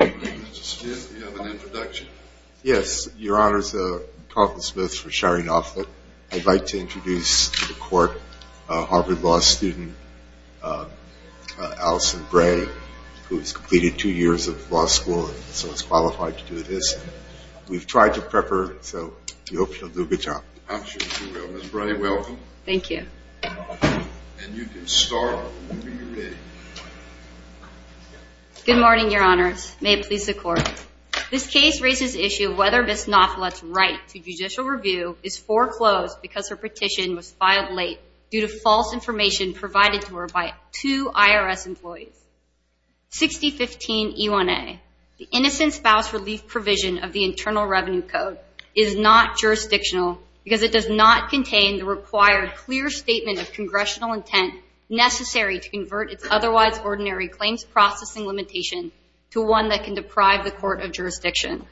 Mr. Smith, you have an introduction. Yes, your honor, this is Carlton Smith from Shari Nauflett. I'd like to introduce to the Court a Harvard Law student, Allison Bray, who has completed two years of law school and so is qualified to do this. We've tried to prepare her so we hope she'll do a good job. I'm sure she will. Ms. Bray, welcome. Thank you. And you can start when you're ready. Thank you. Good morning, your honors. May it please the Court. This case raises the issue of whether Ms. Nauflett's right to judicial review is foreclosed because her petition was filed late due to false information provided to her by two IRS employees. 6015 E1A, the Innocent Spouse Relief Provision of the Internal Revenue Code, is not jurisdictional because it does not contain the required clear statement of Congressional intent necessary to confer the right to judicial review. It does not convert its otherwise ordinary claims processing limitation to one that can deprive the court of jurisdiction.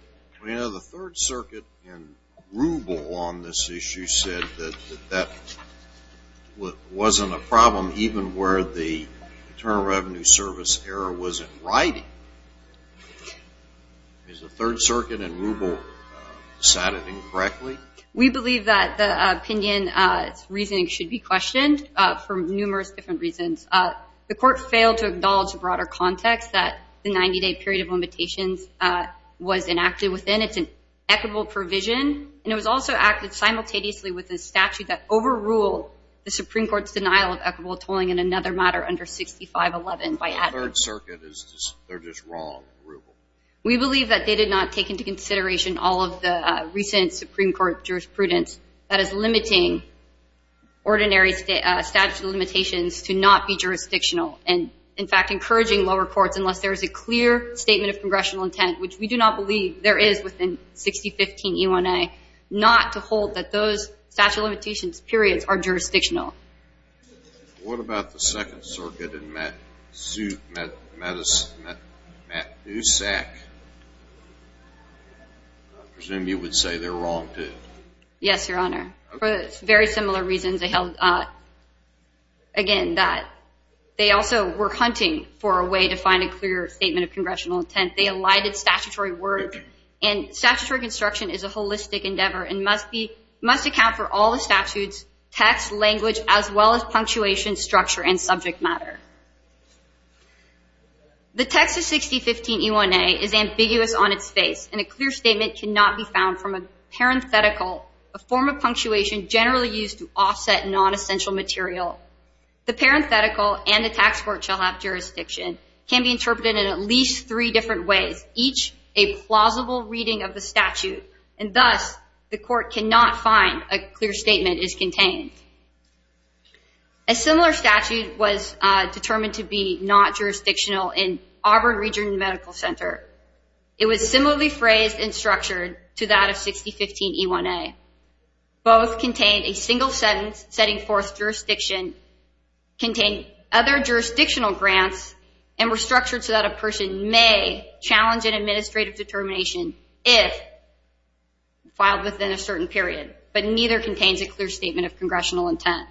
The Third Circuit in Rubel on this issue said that that wasn't a problem even where the Internal Revenue Service error was in writing. Is the Third Circuit in Rubel decided incorrectly? We believe that the opinion's reasoning should be questioned for numerous different reasons. The Court failed to acknowledge the broader context that the 90-day period of limitations was enacted within. It's an equitable provision and it was also acted simultaneously with a statute that overruled the Supreme Court's denial of equitable tolling in another matter under 6511 by adding... The Third Circuit is just, they're just wrong in Rubel. We believe that they did not take into consideration all of the recent Supreme Court jurisprudence that is limiting ordinary statute of limitations to not be jurisdictional and, in fact, encouraging lower courts, unless there is a clear statement of Congressional intent, which we do not believe there is within 6015 E1A, not to hold that those statute of limitations periods are jurisdictional. What about the Second Circuit in Matusak? I presume you would say they're wrong, too. Yes, Your Honor. For very similar reasons, again, that they also were hunting for a way to find a clear statement of Congressional intent. They elided statutory work and statutory construction is a holistic endeavor and must account for all the statutes, text, language, as well as punctuation, structure, and subject matter. The text of 6015 E1A is ambiguous on its face and a clear statement cannot be found from a parenthetical, a form of punctuation generally used to offset non-essential material. The parenthetical and the tax court shall have jurisdiction can be interpreted in at least three different ways, each a plausible reading of the statute, and thus the court cannot find a clear statement is contained. A similar statute was determined to be not jurisdictional in Auburn Regional Medical Center. It was similarly phrased and structured to that of 6015 E1A. Both contained a single sentence setting forth jurisdiction, contained other jurisdictional grants, and were structured so that a person may challenge an administrative determination if filed within a certain period, but neither contains a clear statement of Congressional intent.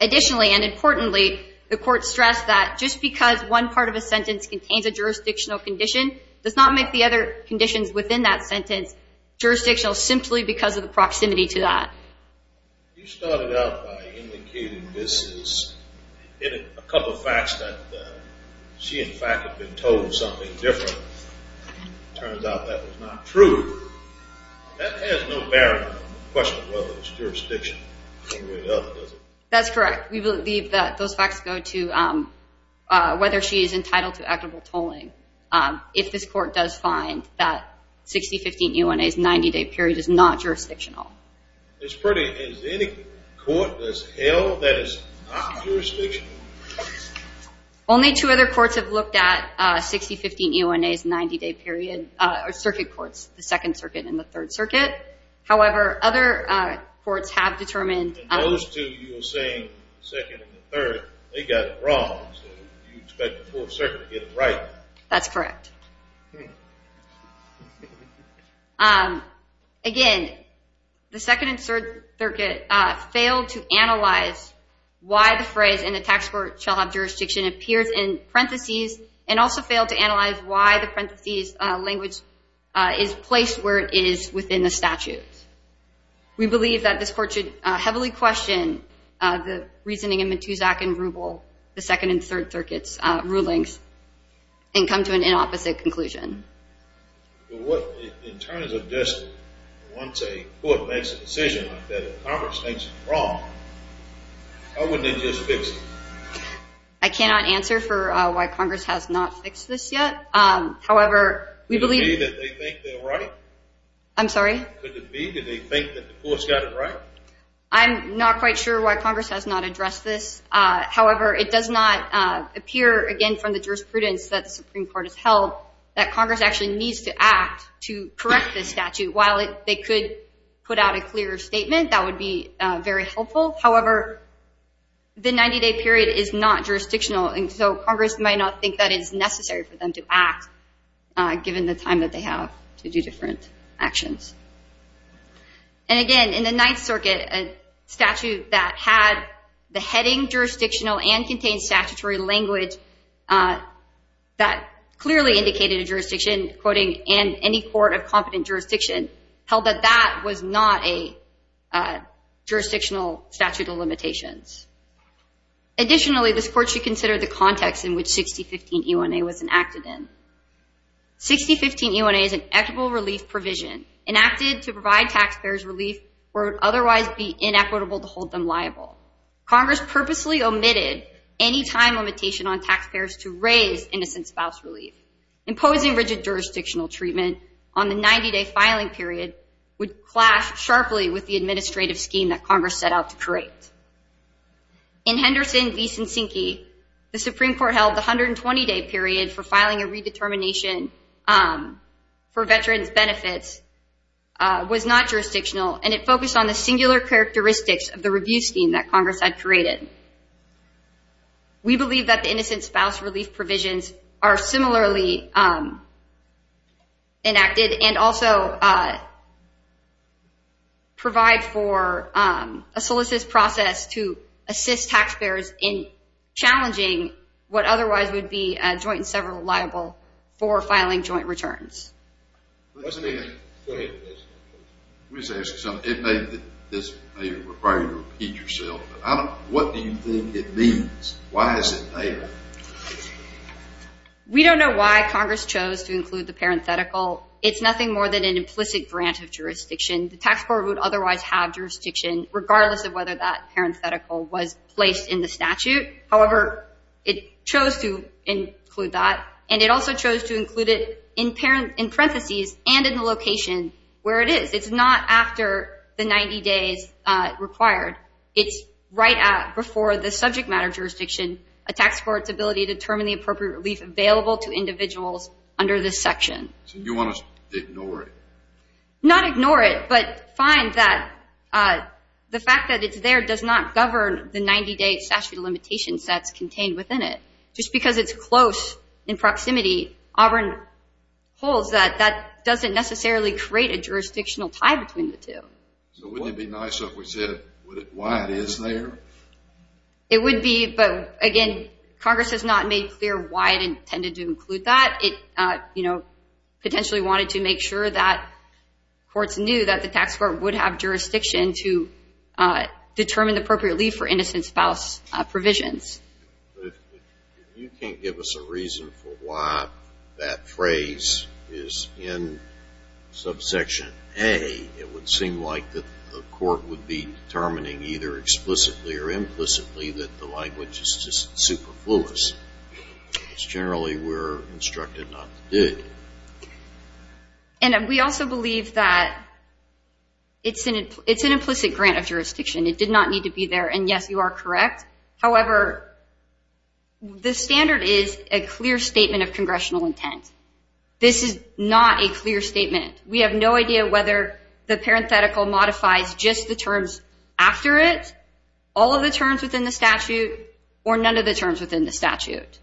Additionally, and importantly, the court stressed that just because one part of a sentence contains a jurisdictional condition does not make the other conditions within that sentence jurisdictional simply because of the proximity to that. You started out by indicating this is a couple of facts that she, in fact, had been told something different. Turns out that was not true. That has no bearing on the question of whether it's jurisdictional. That's correct. We believe that those facts go to whether she is entitled to equitable tolling. If this court does find that 6015 E1A's 90-day period is not jurisdictional. Only two other courts have looked at 6015 E1A's 90-day period, circuit courts, the 2nd Circuit and the 3rd Circuit. However, other courts have determined... Those two you were saying, 2nd and the 3rd, they got it wrong, so you expect the 4th Circuit to get it right. That's correct. Again, the 2nd and 3rd Circuit failed to analyze why the phrase in the tax court shall have jurisdiction appears in parentheses and also failed to analyze why the parentheses language is placed where it is within the statute. We believe that this court should heavily question the reasoning in Matusak and Rubel, the 2nd and 3rd Circuit's rulings, and come to an inopposite conclusion. In terms of just once a court makes a decision like that, if Congress thinks it's wrong, how would they just fix it? I cannot answer for why Congress has not fixed this yet. However, we believe... Do you believe that they think they're right? I'm sorry? Do they think that the courts got it right? I'm not quite sure why Congress has not addressed this. However, it does not appear, again, from the jurisprudence that the Supreme Court has held that Congress actually needs to act to correct this statute. While they could put out a clearer statement, that would be very helpful. However, the 90-day period is not jurisdictional, and so Congress might not think that it's necessary for them to act, given the time that they have to do different actions. And again, in the 9th Circuit, a statute that had the heading jurisdictional and contained statutory language that clearly indicated a jurisdiction, quoting, and any court of competent jurisdiction held that that was not a jurisdictional statute of limitations. Additionally, this court should consider the context in which 6015 UNA was enacted in. 6015 UNA is an equitable relief provision enacted to provide taxpayers relief where it would otherwise be inequitable to hold them liable. Congress purposely omitted any time limitation on taxpayers to raise innocent spouse relief. Imposing rigid jurisdictional treatment on the 90-day filing period would clash sharply with the administrative scheme that Congress set out to create. In Henderson v. Cyncki, the Supreme Court held the 120-day period for filing a redetermination for veterans' benefits was not jurisdictional, and it focused on the singular characteristics of the review scheme that Congress had created. We believe that the innocent spouse relief provisions are similarly enacted and also provide for a solicitous process to assist taxpayers in challenging what otherwise would be a joint and several liable for filing joint returns. It may require you to repeat yourself, but what do you think it means? Why is it there? We don't know why Congress chose to include the parenthetical. It's nothing more than an implicit grant of jurisdiction. The tax board would otherwise have jurisdiction regardless of whether that parenthetical was placed in the statute. However, it chose to include that, and it also chose to include it in parentheses and in the location where it is. It's not after the 90 days required. It's right before the subject matter jurisdiction, a tax court's ability to determine the appropriate relief available to individuals under this section. So you want us to ignore it? Not ignore it, but find that the fact that it's there does not govern the 90-day statute of limitations that's contained within it. Just because it's close in proximity, Auburn holds that that doesn't necessarily create a jurisdictional tie between the two. So wouldn't it be nicer if we said why it is there? It would be, but again, Congress has not made clear why it intended to include that. It, you know, potentially wanted to make sure that courts knew that the tax court would have jurisdiction to determine the appropriate relief for innocent spouse provisions. But if you can't give us a reason for why that phrase is in subsection A, it would seem like the court would be determining either explicitly or implicitly that the language is just superfluous. It's generally we're instructed not to do it. And we also believe that it's an implicit grant of jurisdiction. It did not need to be there, and yes, you are correct. However, the standard is a clear statement of congressional intent. This is not a clear statement. We have no idea whether the parenthetical modifies just the terms after it, all of the terms within the statute, or none of the terms within the statute.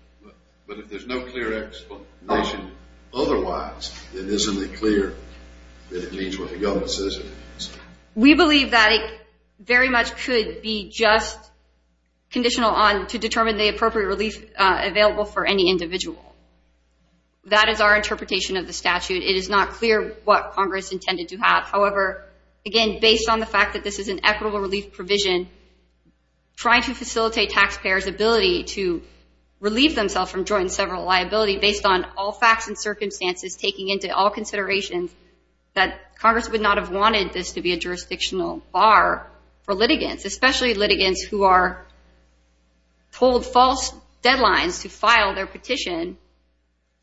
But if there's no clear explanation otherwise, then isn't it clear that it means what the government says it means? We believe that it very much could be just conditional on to determine the appropriate relief available for any individual. That is our interpretation of the statute. It is not clear what Congress intended to have. However, again, based on the fact that this is an equitable relief provision, trying to facilitate taxpayers' ability to relieve themselves from joint and several liability, based on all facts and circumstances, taking into all considerations, that Congress would not have wanted this to be a jurisdictional bar for litigants, especially litigants who are told false deadlines to file their petition,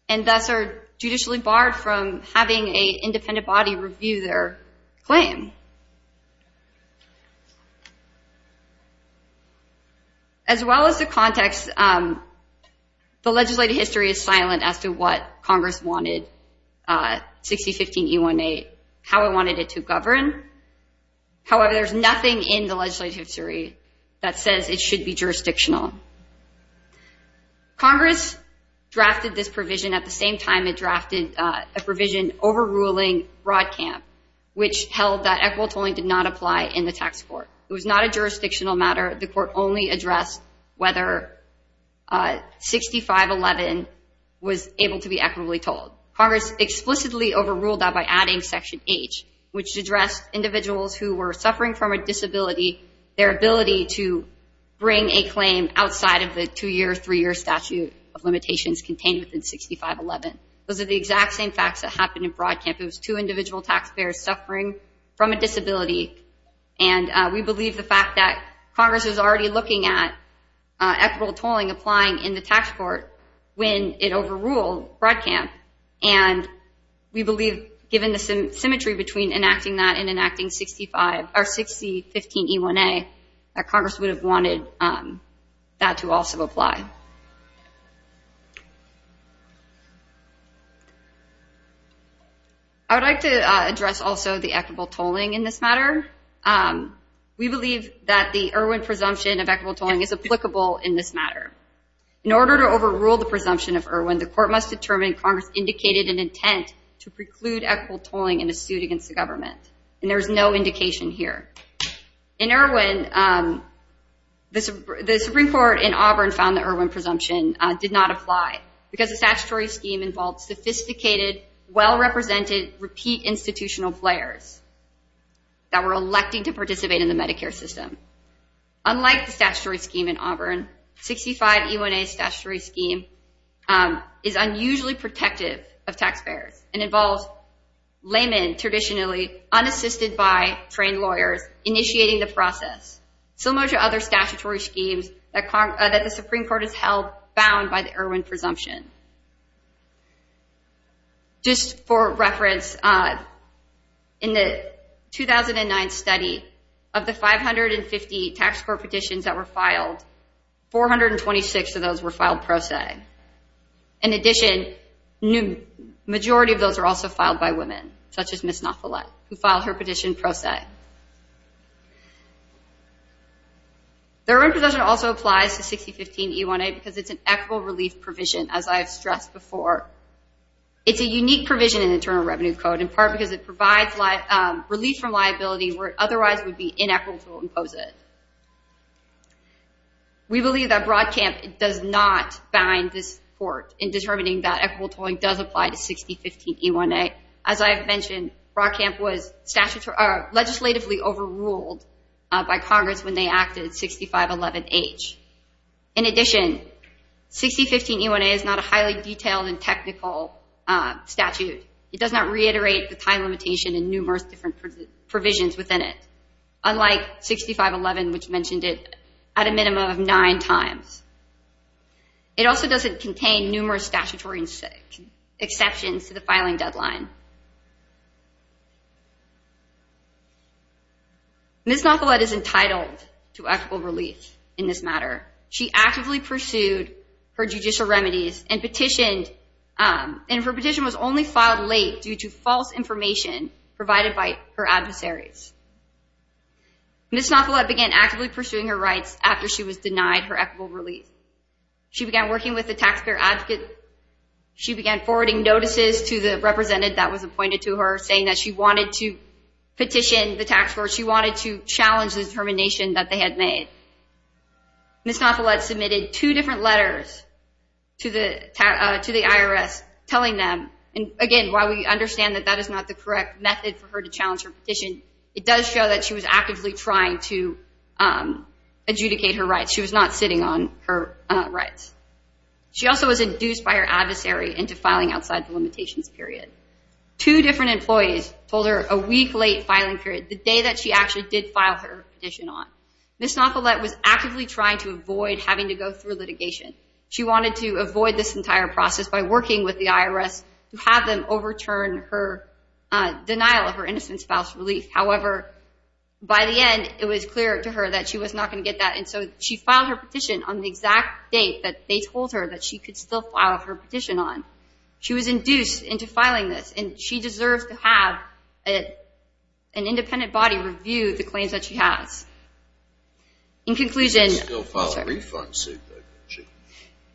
and thus are judicially barred from having an independent body review their claim. As well as the context, the legislative history is silent as to what Congress wanted 6015E18, how it wanted it to govern. However, there's nothing in the legislative history that says it should be jurisdictional. Congress drafted this provision at the same time it drafted a provision overruling Broadcamp, which held that equitable tolling did not apply in the tax court. It was not a jurisdictional matter. The court only addressed whether 6511 was able to be equitably tolled. Congress explicitly overruled that by adding Section H, which addressed individuals who were suffering from a disability, their ability to bring a claim outside of the two-year, three-year statute of limitations contained within 6511. Those are the exact same facts that happened in Broadcamp. It was two individual taxpayers suffering from a disability, and we believe the fact that Congress was already looking at equitable tolling applying in the tax court when it overruled Broadcamp, and we believe given the symmetry between enacting that and enacting 6015E1A, that Congress would have wanted that to also apply. I would like to address also the equitable tolling in this matter. We believe that the Erwin presumption of equitable tolling is applicable in this matter. In order to overrule the presumption of Erwin, the court must determine Congress indicated an intent to preclude equitable tolling in a suit against the government, and there is no indication here. In Erwin, the Supreme Court in Auburn found the Erwin presumption did not apply because the statutory scheme involved sophisticated, well-represented, repeat institutional players that were electing to participate in the Medicare system. Unlike the statutory scheme in Auburn, 65E1A's statutory scheme is unusually protective of taxpayers and involves laymen traditionally unassisted by trained lawyers initiating the process, similar to other statutory schemes that the Supreme Court has held bound by the Erwin presumption. Just for reference, in the 2009 study, of the 550 tax court petitions that were filed, 426 of those were filed pro se. In addition, the majority of those were also filed by women, such as Ms. Nafolet, who filed her petition pro se. The Erwin presumption also applies to 6015E1A because it's an equitable relief provision, as I have stressed before. It's a unique provision in the Internal Revenue Code, in part because it provides relief from liability where it otherwise would be inequitable to impose it. We believe that Broadcamp does not bind this court in determining that equitable tolling does apply to 6015E1A. As I have mentioned, Broadcamp was legislatively overruled by Congress when they acted 6511H. In addition, 6015E1A is not a highly detailed and technical statute. It does not reiterate the time limitation and numerous different provisions within it, unlike 6511, which mentioned it at a minimum of nine times. It also doesn't contain numerous statutory exceptions to the filing deadline. Ms. Nafolet is entitled to equitable relief in this matter. She actively pursued her judicial remedies and petitioned, and her petition was only filed late due to false information provided by her adversaries. Ms. Nafolet began actively pursuing her rights after she was denied her equitable relief. She began working with the taxpayer advocate. She began forwarding notices to the representative that was appointed to her, saying that she wanted to petition the tax court. She wanted to challenge the determination that they had made. Ms. Nafolet submitted two different letters to the IRS telling them, and again, while we understand that that is not the correct method for her to challenge her petition, it does show that she was actively trying to adjudicate her rights. She was not sitting on her rights. She also was induced by her adversary into filing outside the limitations period. Two different employees told her a week late filing period, the day that she actually did file her petition on. Ms. Nafolet was actively trying to avoid having to go through litigation. She wanted to avoid this entire process by working with the IRS to have them overturn her denial of her innocent spouse's relief. However, by the end, it was clear to her that she was not going to get that, and so she filed her petition on the exact date that they told her that she could still file her petition on. She was induced into filing this, and she deserves to have an independent body review the claims that she has. In conclusion,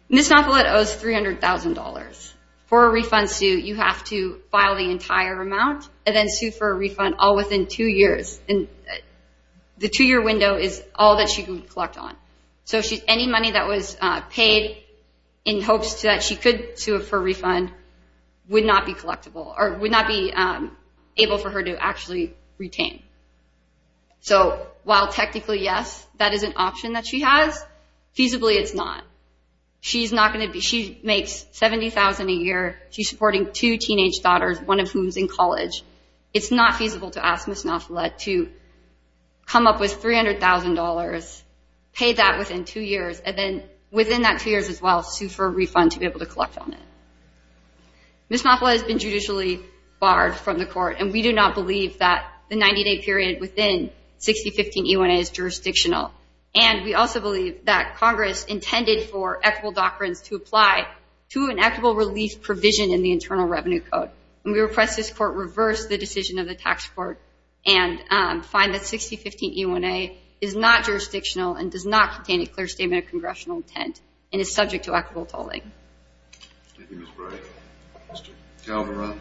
Ms. Nafolet owes $300,000. For a refund suit, you have to file the entire amount and then sue for a refund all within two years. The two-year window is all that she can collect on. So any money that was paid in hopes that she could sue for a refund would not be collectible, or would not be able for her to actually retain. So while technically, yes, that is an option that she has, feasibly it's not. She makes $70,000 a year. She's supporting two teenage daughters, one of whom is in college. It's not feasible to ask Ms. Nafolet to come up with $300,000, pay that within two years, and then within that two years as well, sue for a refund to be able to collect on it. Ms. Nafolet has been judicially barred from the court, and we do not believe that the 90-day period within 6015 E1A is jurisdictional. And we also believe that Congress intended for equitable doctrines to apply to an equitable relief provision in the Internal Revenue Code. And we request this court reverse the decision of the tax court and find that 6015 E1A is not jurisdictional and does not contain a clear statement of congressional intent and is subject to equitable tolling. Thank you, Ms. Bright. Mr. Calderon.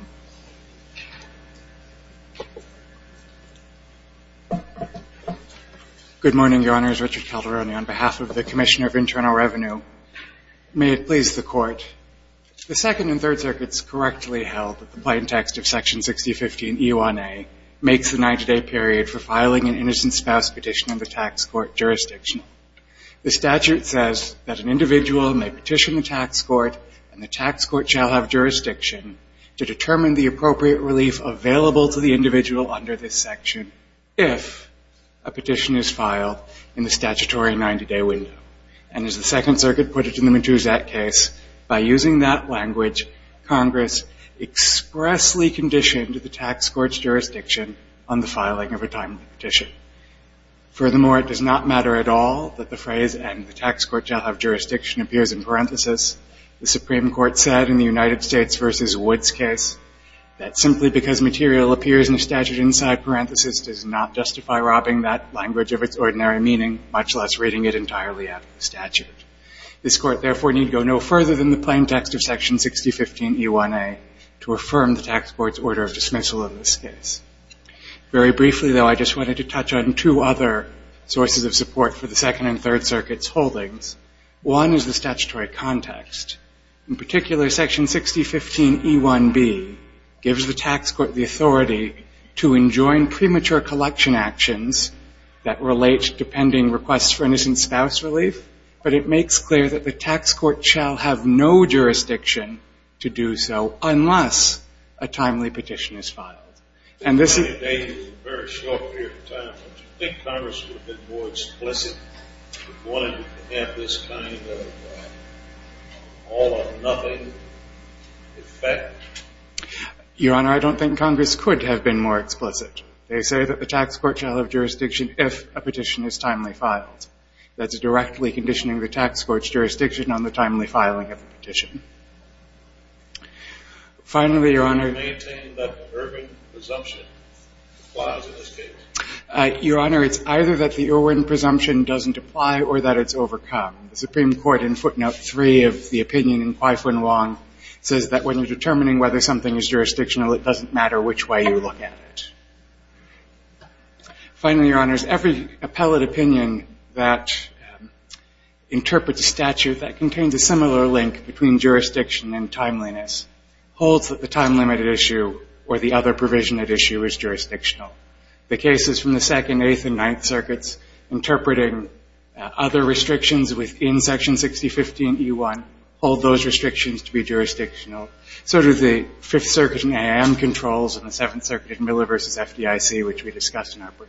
Good morning, Your Honors. Richard Calderon on behalf of the Commissioner of Internal Revenue. May it please the Court. The Second and Third Circuits correctly held that the plain text of Section 6015 E1A makes the 90-day period for filing an innocent spouse petition in the tax court jurisdictional. The statute says that an individual may petition the tax court and the tax court shall have jurisdiction to determine the appropriate relief available to the individual under this section if a petition is filed in the statutory 90-day window. And as the Second Circuit put it in the Matuzak case, by using that language, Congress expressly conditioned the tax court's jurisdiction on the filing of a timely petition. Furthermore, it does not matter at all that the phrase, and the tax court shall have jurisdiction, appears in parentheses. The Supreme Court said in the United States v. Woods case that simply because material appears in a statute inside parentheses does not justify robbing that language of its ordinary meaning, much less reading it entirely out of the statute. This Court, therefore, need go no further than the plain text of Section 6015 E1A to affirm the tax court's order of dismissal in this case. Very briefly, though, I just wanted to touch on two other sources of support for the Second and Third Circuits' holdings. One is the statutory context. premature collection actions that relate to pending requests for innocent spouse relief, but it makes clear that the tax court shall have no jurisdiction to do so unless a timely petition is filed. And this is... Do you think Congress would have been more explicit if it wanted to have this kind of all-or-nothing effect? Your Honor, I don't think Congress could have been more explicit. They say that the tax court shall have jurisdiction if a petition is timely filed. That's directly conditioning the tax court's jurisdiction on the timely filing of a petition. Finally, Your Honor... Your Honor, it's either that the Irwin presumption doesn't apply or that it's overcome. The Supreme Court, in footnote 3 of the opinion in Kwai-Fun Wong, says that when you're determining whether something is jurisdictional, it doesn't matter which way you look at it. Finally, Your Honors, every appellate opinion that interprets a statute that contains a similar link between jurisdiction and timeliness holds that the time-limited issue or the other provision at issue is jurisdictional. The cases from the Second, Eighth, and Ninth Circuits interpreting other restrictions within Section 6015E1 hold those restrictions to be jurisdictional. So do the Fifth Circuit and AIM controls and the Seventh Circuit Miller v. FDIC, which we discussed in our brief.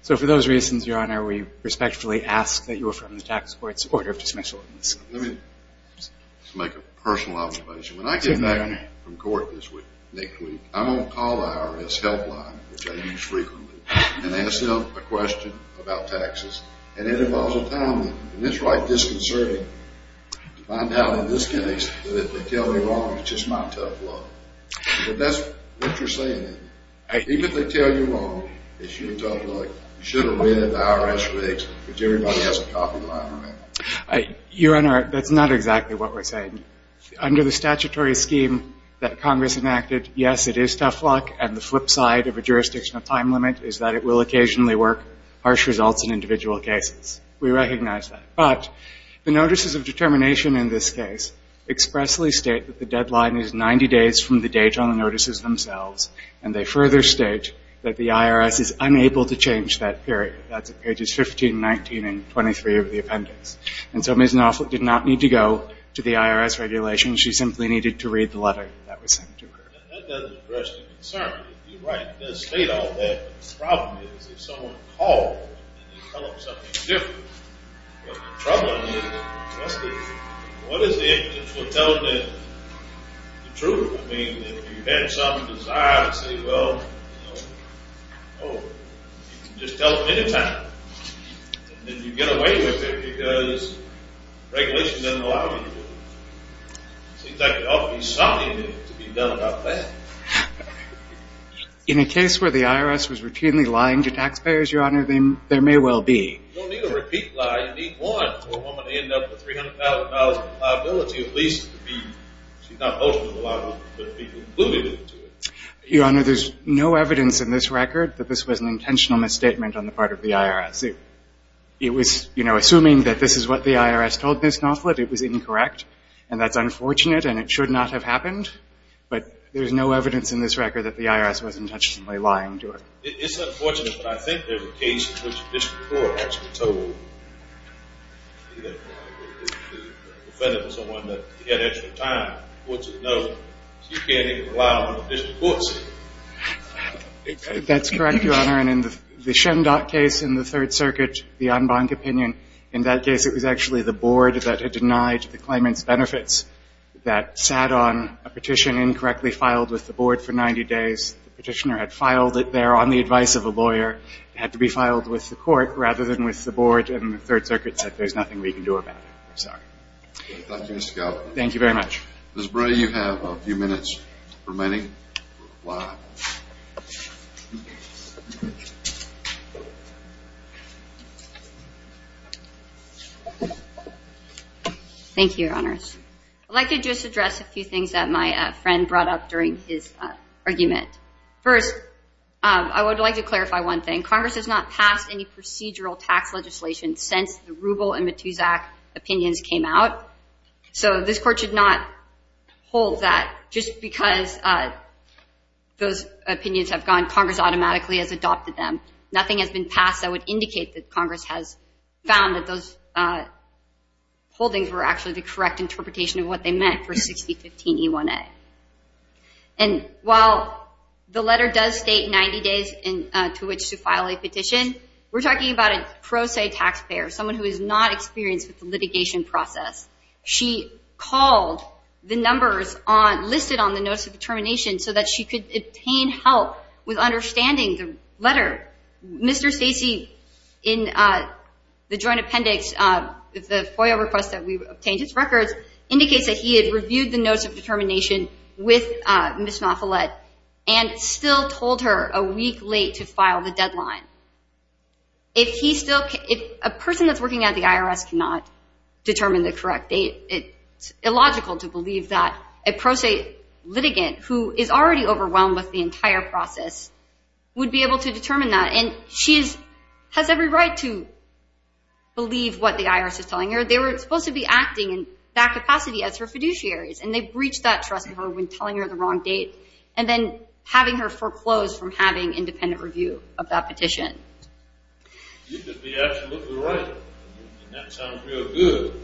So for those reasons, Your Honor, we respectfully ask that you affirm the tax court's order of dismissal. Let me just make a personal observation. When I get back from court this week, next week, I'm going to call the IRS helpline, which I use frequently, and ask them a question about taxes, and it involves a time limit, and it's right disconcerting to find out in this case that if they tell me wrong, it's just my tough luck. But that's what you're saying, isn't it? Even if they tell you wrong, it's your tough luck. You should have read the IRS rigs, which everybody has a copy lying around. Your Honor, that's not exactly what we're saying. Under the statutory scheme that Congress enacted, yes, it is tough luck, and the flip side of a jurisdictional time limit is that it will occasionally work harsh results in individual cases. We recognize that. But the notices of determination in this case expressly state that the deadline is 90 days from the date on the notices themselves, and they further state that the IRS is unable to change that period. That's at pages 15, 19, and 23 of the appendix. And so Ms. Knopfler did not need to go to the IRS regulations. She simply needed to read the letter that was sent to her. That doesn't address the concern. You're right, it does state all that. But the problem is if someone called and you tell them something different, what's the trouble in it? What is the evidence that will tell them the truth? I mean, if you had some desire to say, well, you know, oh, you can just tell them any time, then you get away with it because regulation doesn't allow you to do it. It seems like there ought to be something to be done about that. In a case where the IRS was routinely lying to taxpayers, Your Honor, there may well be. You don't need a repeat lie. You need one for a woman to end up with $300,000 in liability, at least to be, she's not mostly liable, but to be included into it. Your Honor, there's no evidence in this record that this was an intentional misstatement on the part of the IRS. It was, you know, assuming that this is what the IRS told Ms. Nofflett, it was incorrect, and that's unfortunate, and it should not have happened. But there's no evidence in this record that the IRS was intentionally lying to her. It's unfortunate, but I think there's a case in which the district court actually told the defendant or someone that he had extra time, so you can't even allow the district court to see it. That's correct, Your Honor. And in the Shendot case in the Third Circuit, the en banc opinion, in that case it was actually the board that had denied the claimant's benefits that sat on a petition incorrectly filed with the board for 90 days. The petitioner had filed it there on the advice of a lawyer. It had to be filed with the court rather than with the board, and the Third Circuit said there's nothing we can do about it. I'm sorry. Thank you, Mr. Gallagher. Thank you very much. Ms. Bray, you have a few minutes remaining. Thank you, Your Honors. I'd like to just address a few things that my friend brought up during his argument. First, I would like to clarify one thing. Congress has not passed any procedural tax legislation since the Rubel and Matusak opinions came out, so this Court should not hold that just because those opinions have gone. Congress automatically has adopted them. Nothing has been passed that would indicate that Congress has found that those holdings were actually the correct interpretation of what they meant for 6015E1A. And while the letter does state 90 days to which to file a petition, we're talking about a pro se taxpayer, someone who is not experienced with the litigation process. She called the numbers listed on the Notice of Determination so that she could obtain help with understanding the letter. Mr. Stacey, in the Joint Appendix, the FOIA request that we obtained his records, indicates that he had reviewed the Notice of Determination with Ms. Malfillet and still told her a week late to file the deadline. If a person that's working at the IRS cannot determine the correct date, it's illogical to believe that a pro se litigant who is already overwhelmed with the entire process would be able to determine that. And she has every right to believe what the IRS is telling her. They were supposed to be acting in that capacity as her fiduciaries, and they breached that trust of her when telling her the wrong date and then having her foreclosed from having independent review of that petition. You could be absolutely right, and that sounds real good,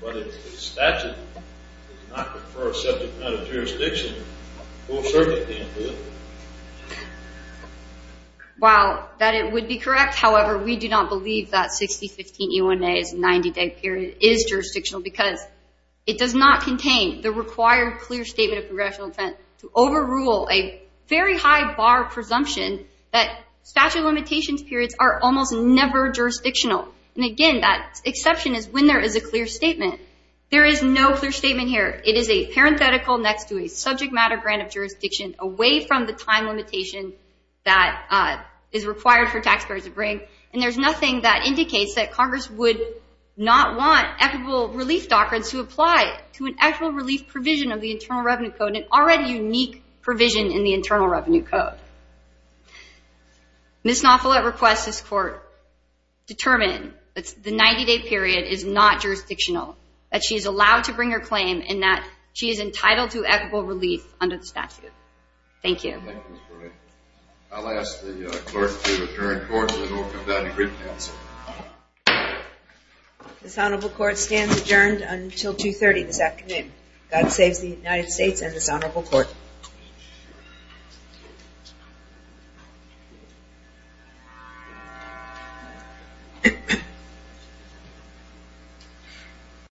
but if the statute does not prefer a subject matter jurisdiction, the full circuit can't do it. While that would be correct, however, we do not believe that 6015E1A's 90-day period is jurisdictional because it does not contain the required clear statement of congressional intent to overrule a very high bar presumption that statute of limitations periods are almost never jurisdictional. And again, that exception is when there is a clear statement. There is no clear statement here. It is a parenthetical next to a subject matter grant of jurisdiction away from the time limitation that is required for taxpayers to bring, and there's nothing that indicates that Congress would not want equitable relief documents to apply to an actual relief provision of the Internal Revenue Code, an already unique provision in the Internal Revenue Code. Ms. Naufla requests this court determine that the 90-day period is not jurisdictional, that she is allowed to bring her claim, and that she is entitled to equitable relief under the statute. Thank you. I'll ask the clerk to adjourn court and we'll come back to brief counsel. This honorable court stands adjourned until 2.30 this afternoon. God saves the United States and this honorable court.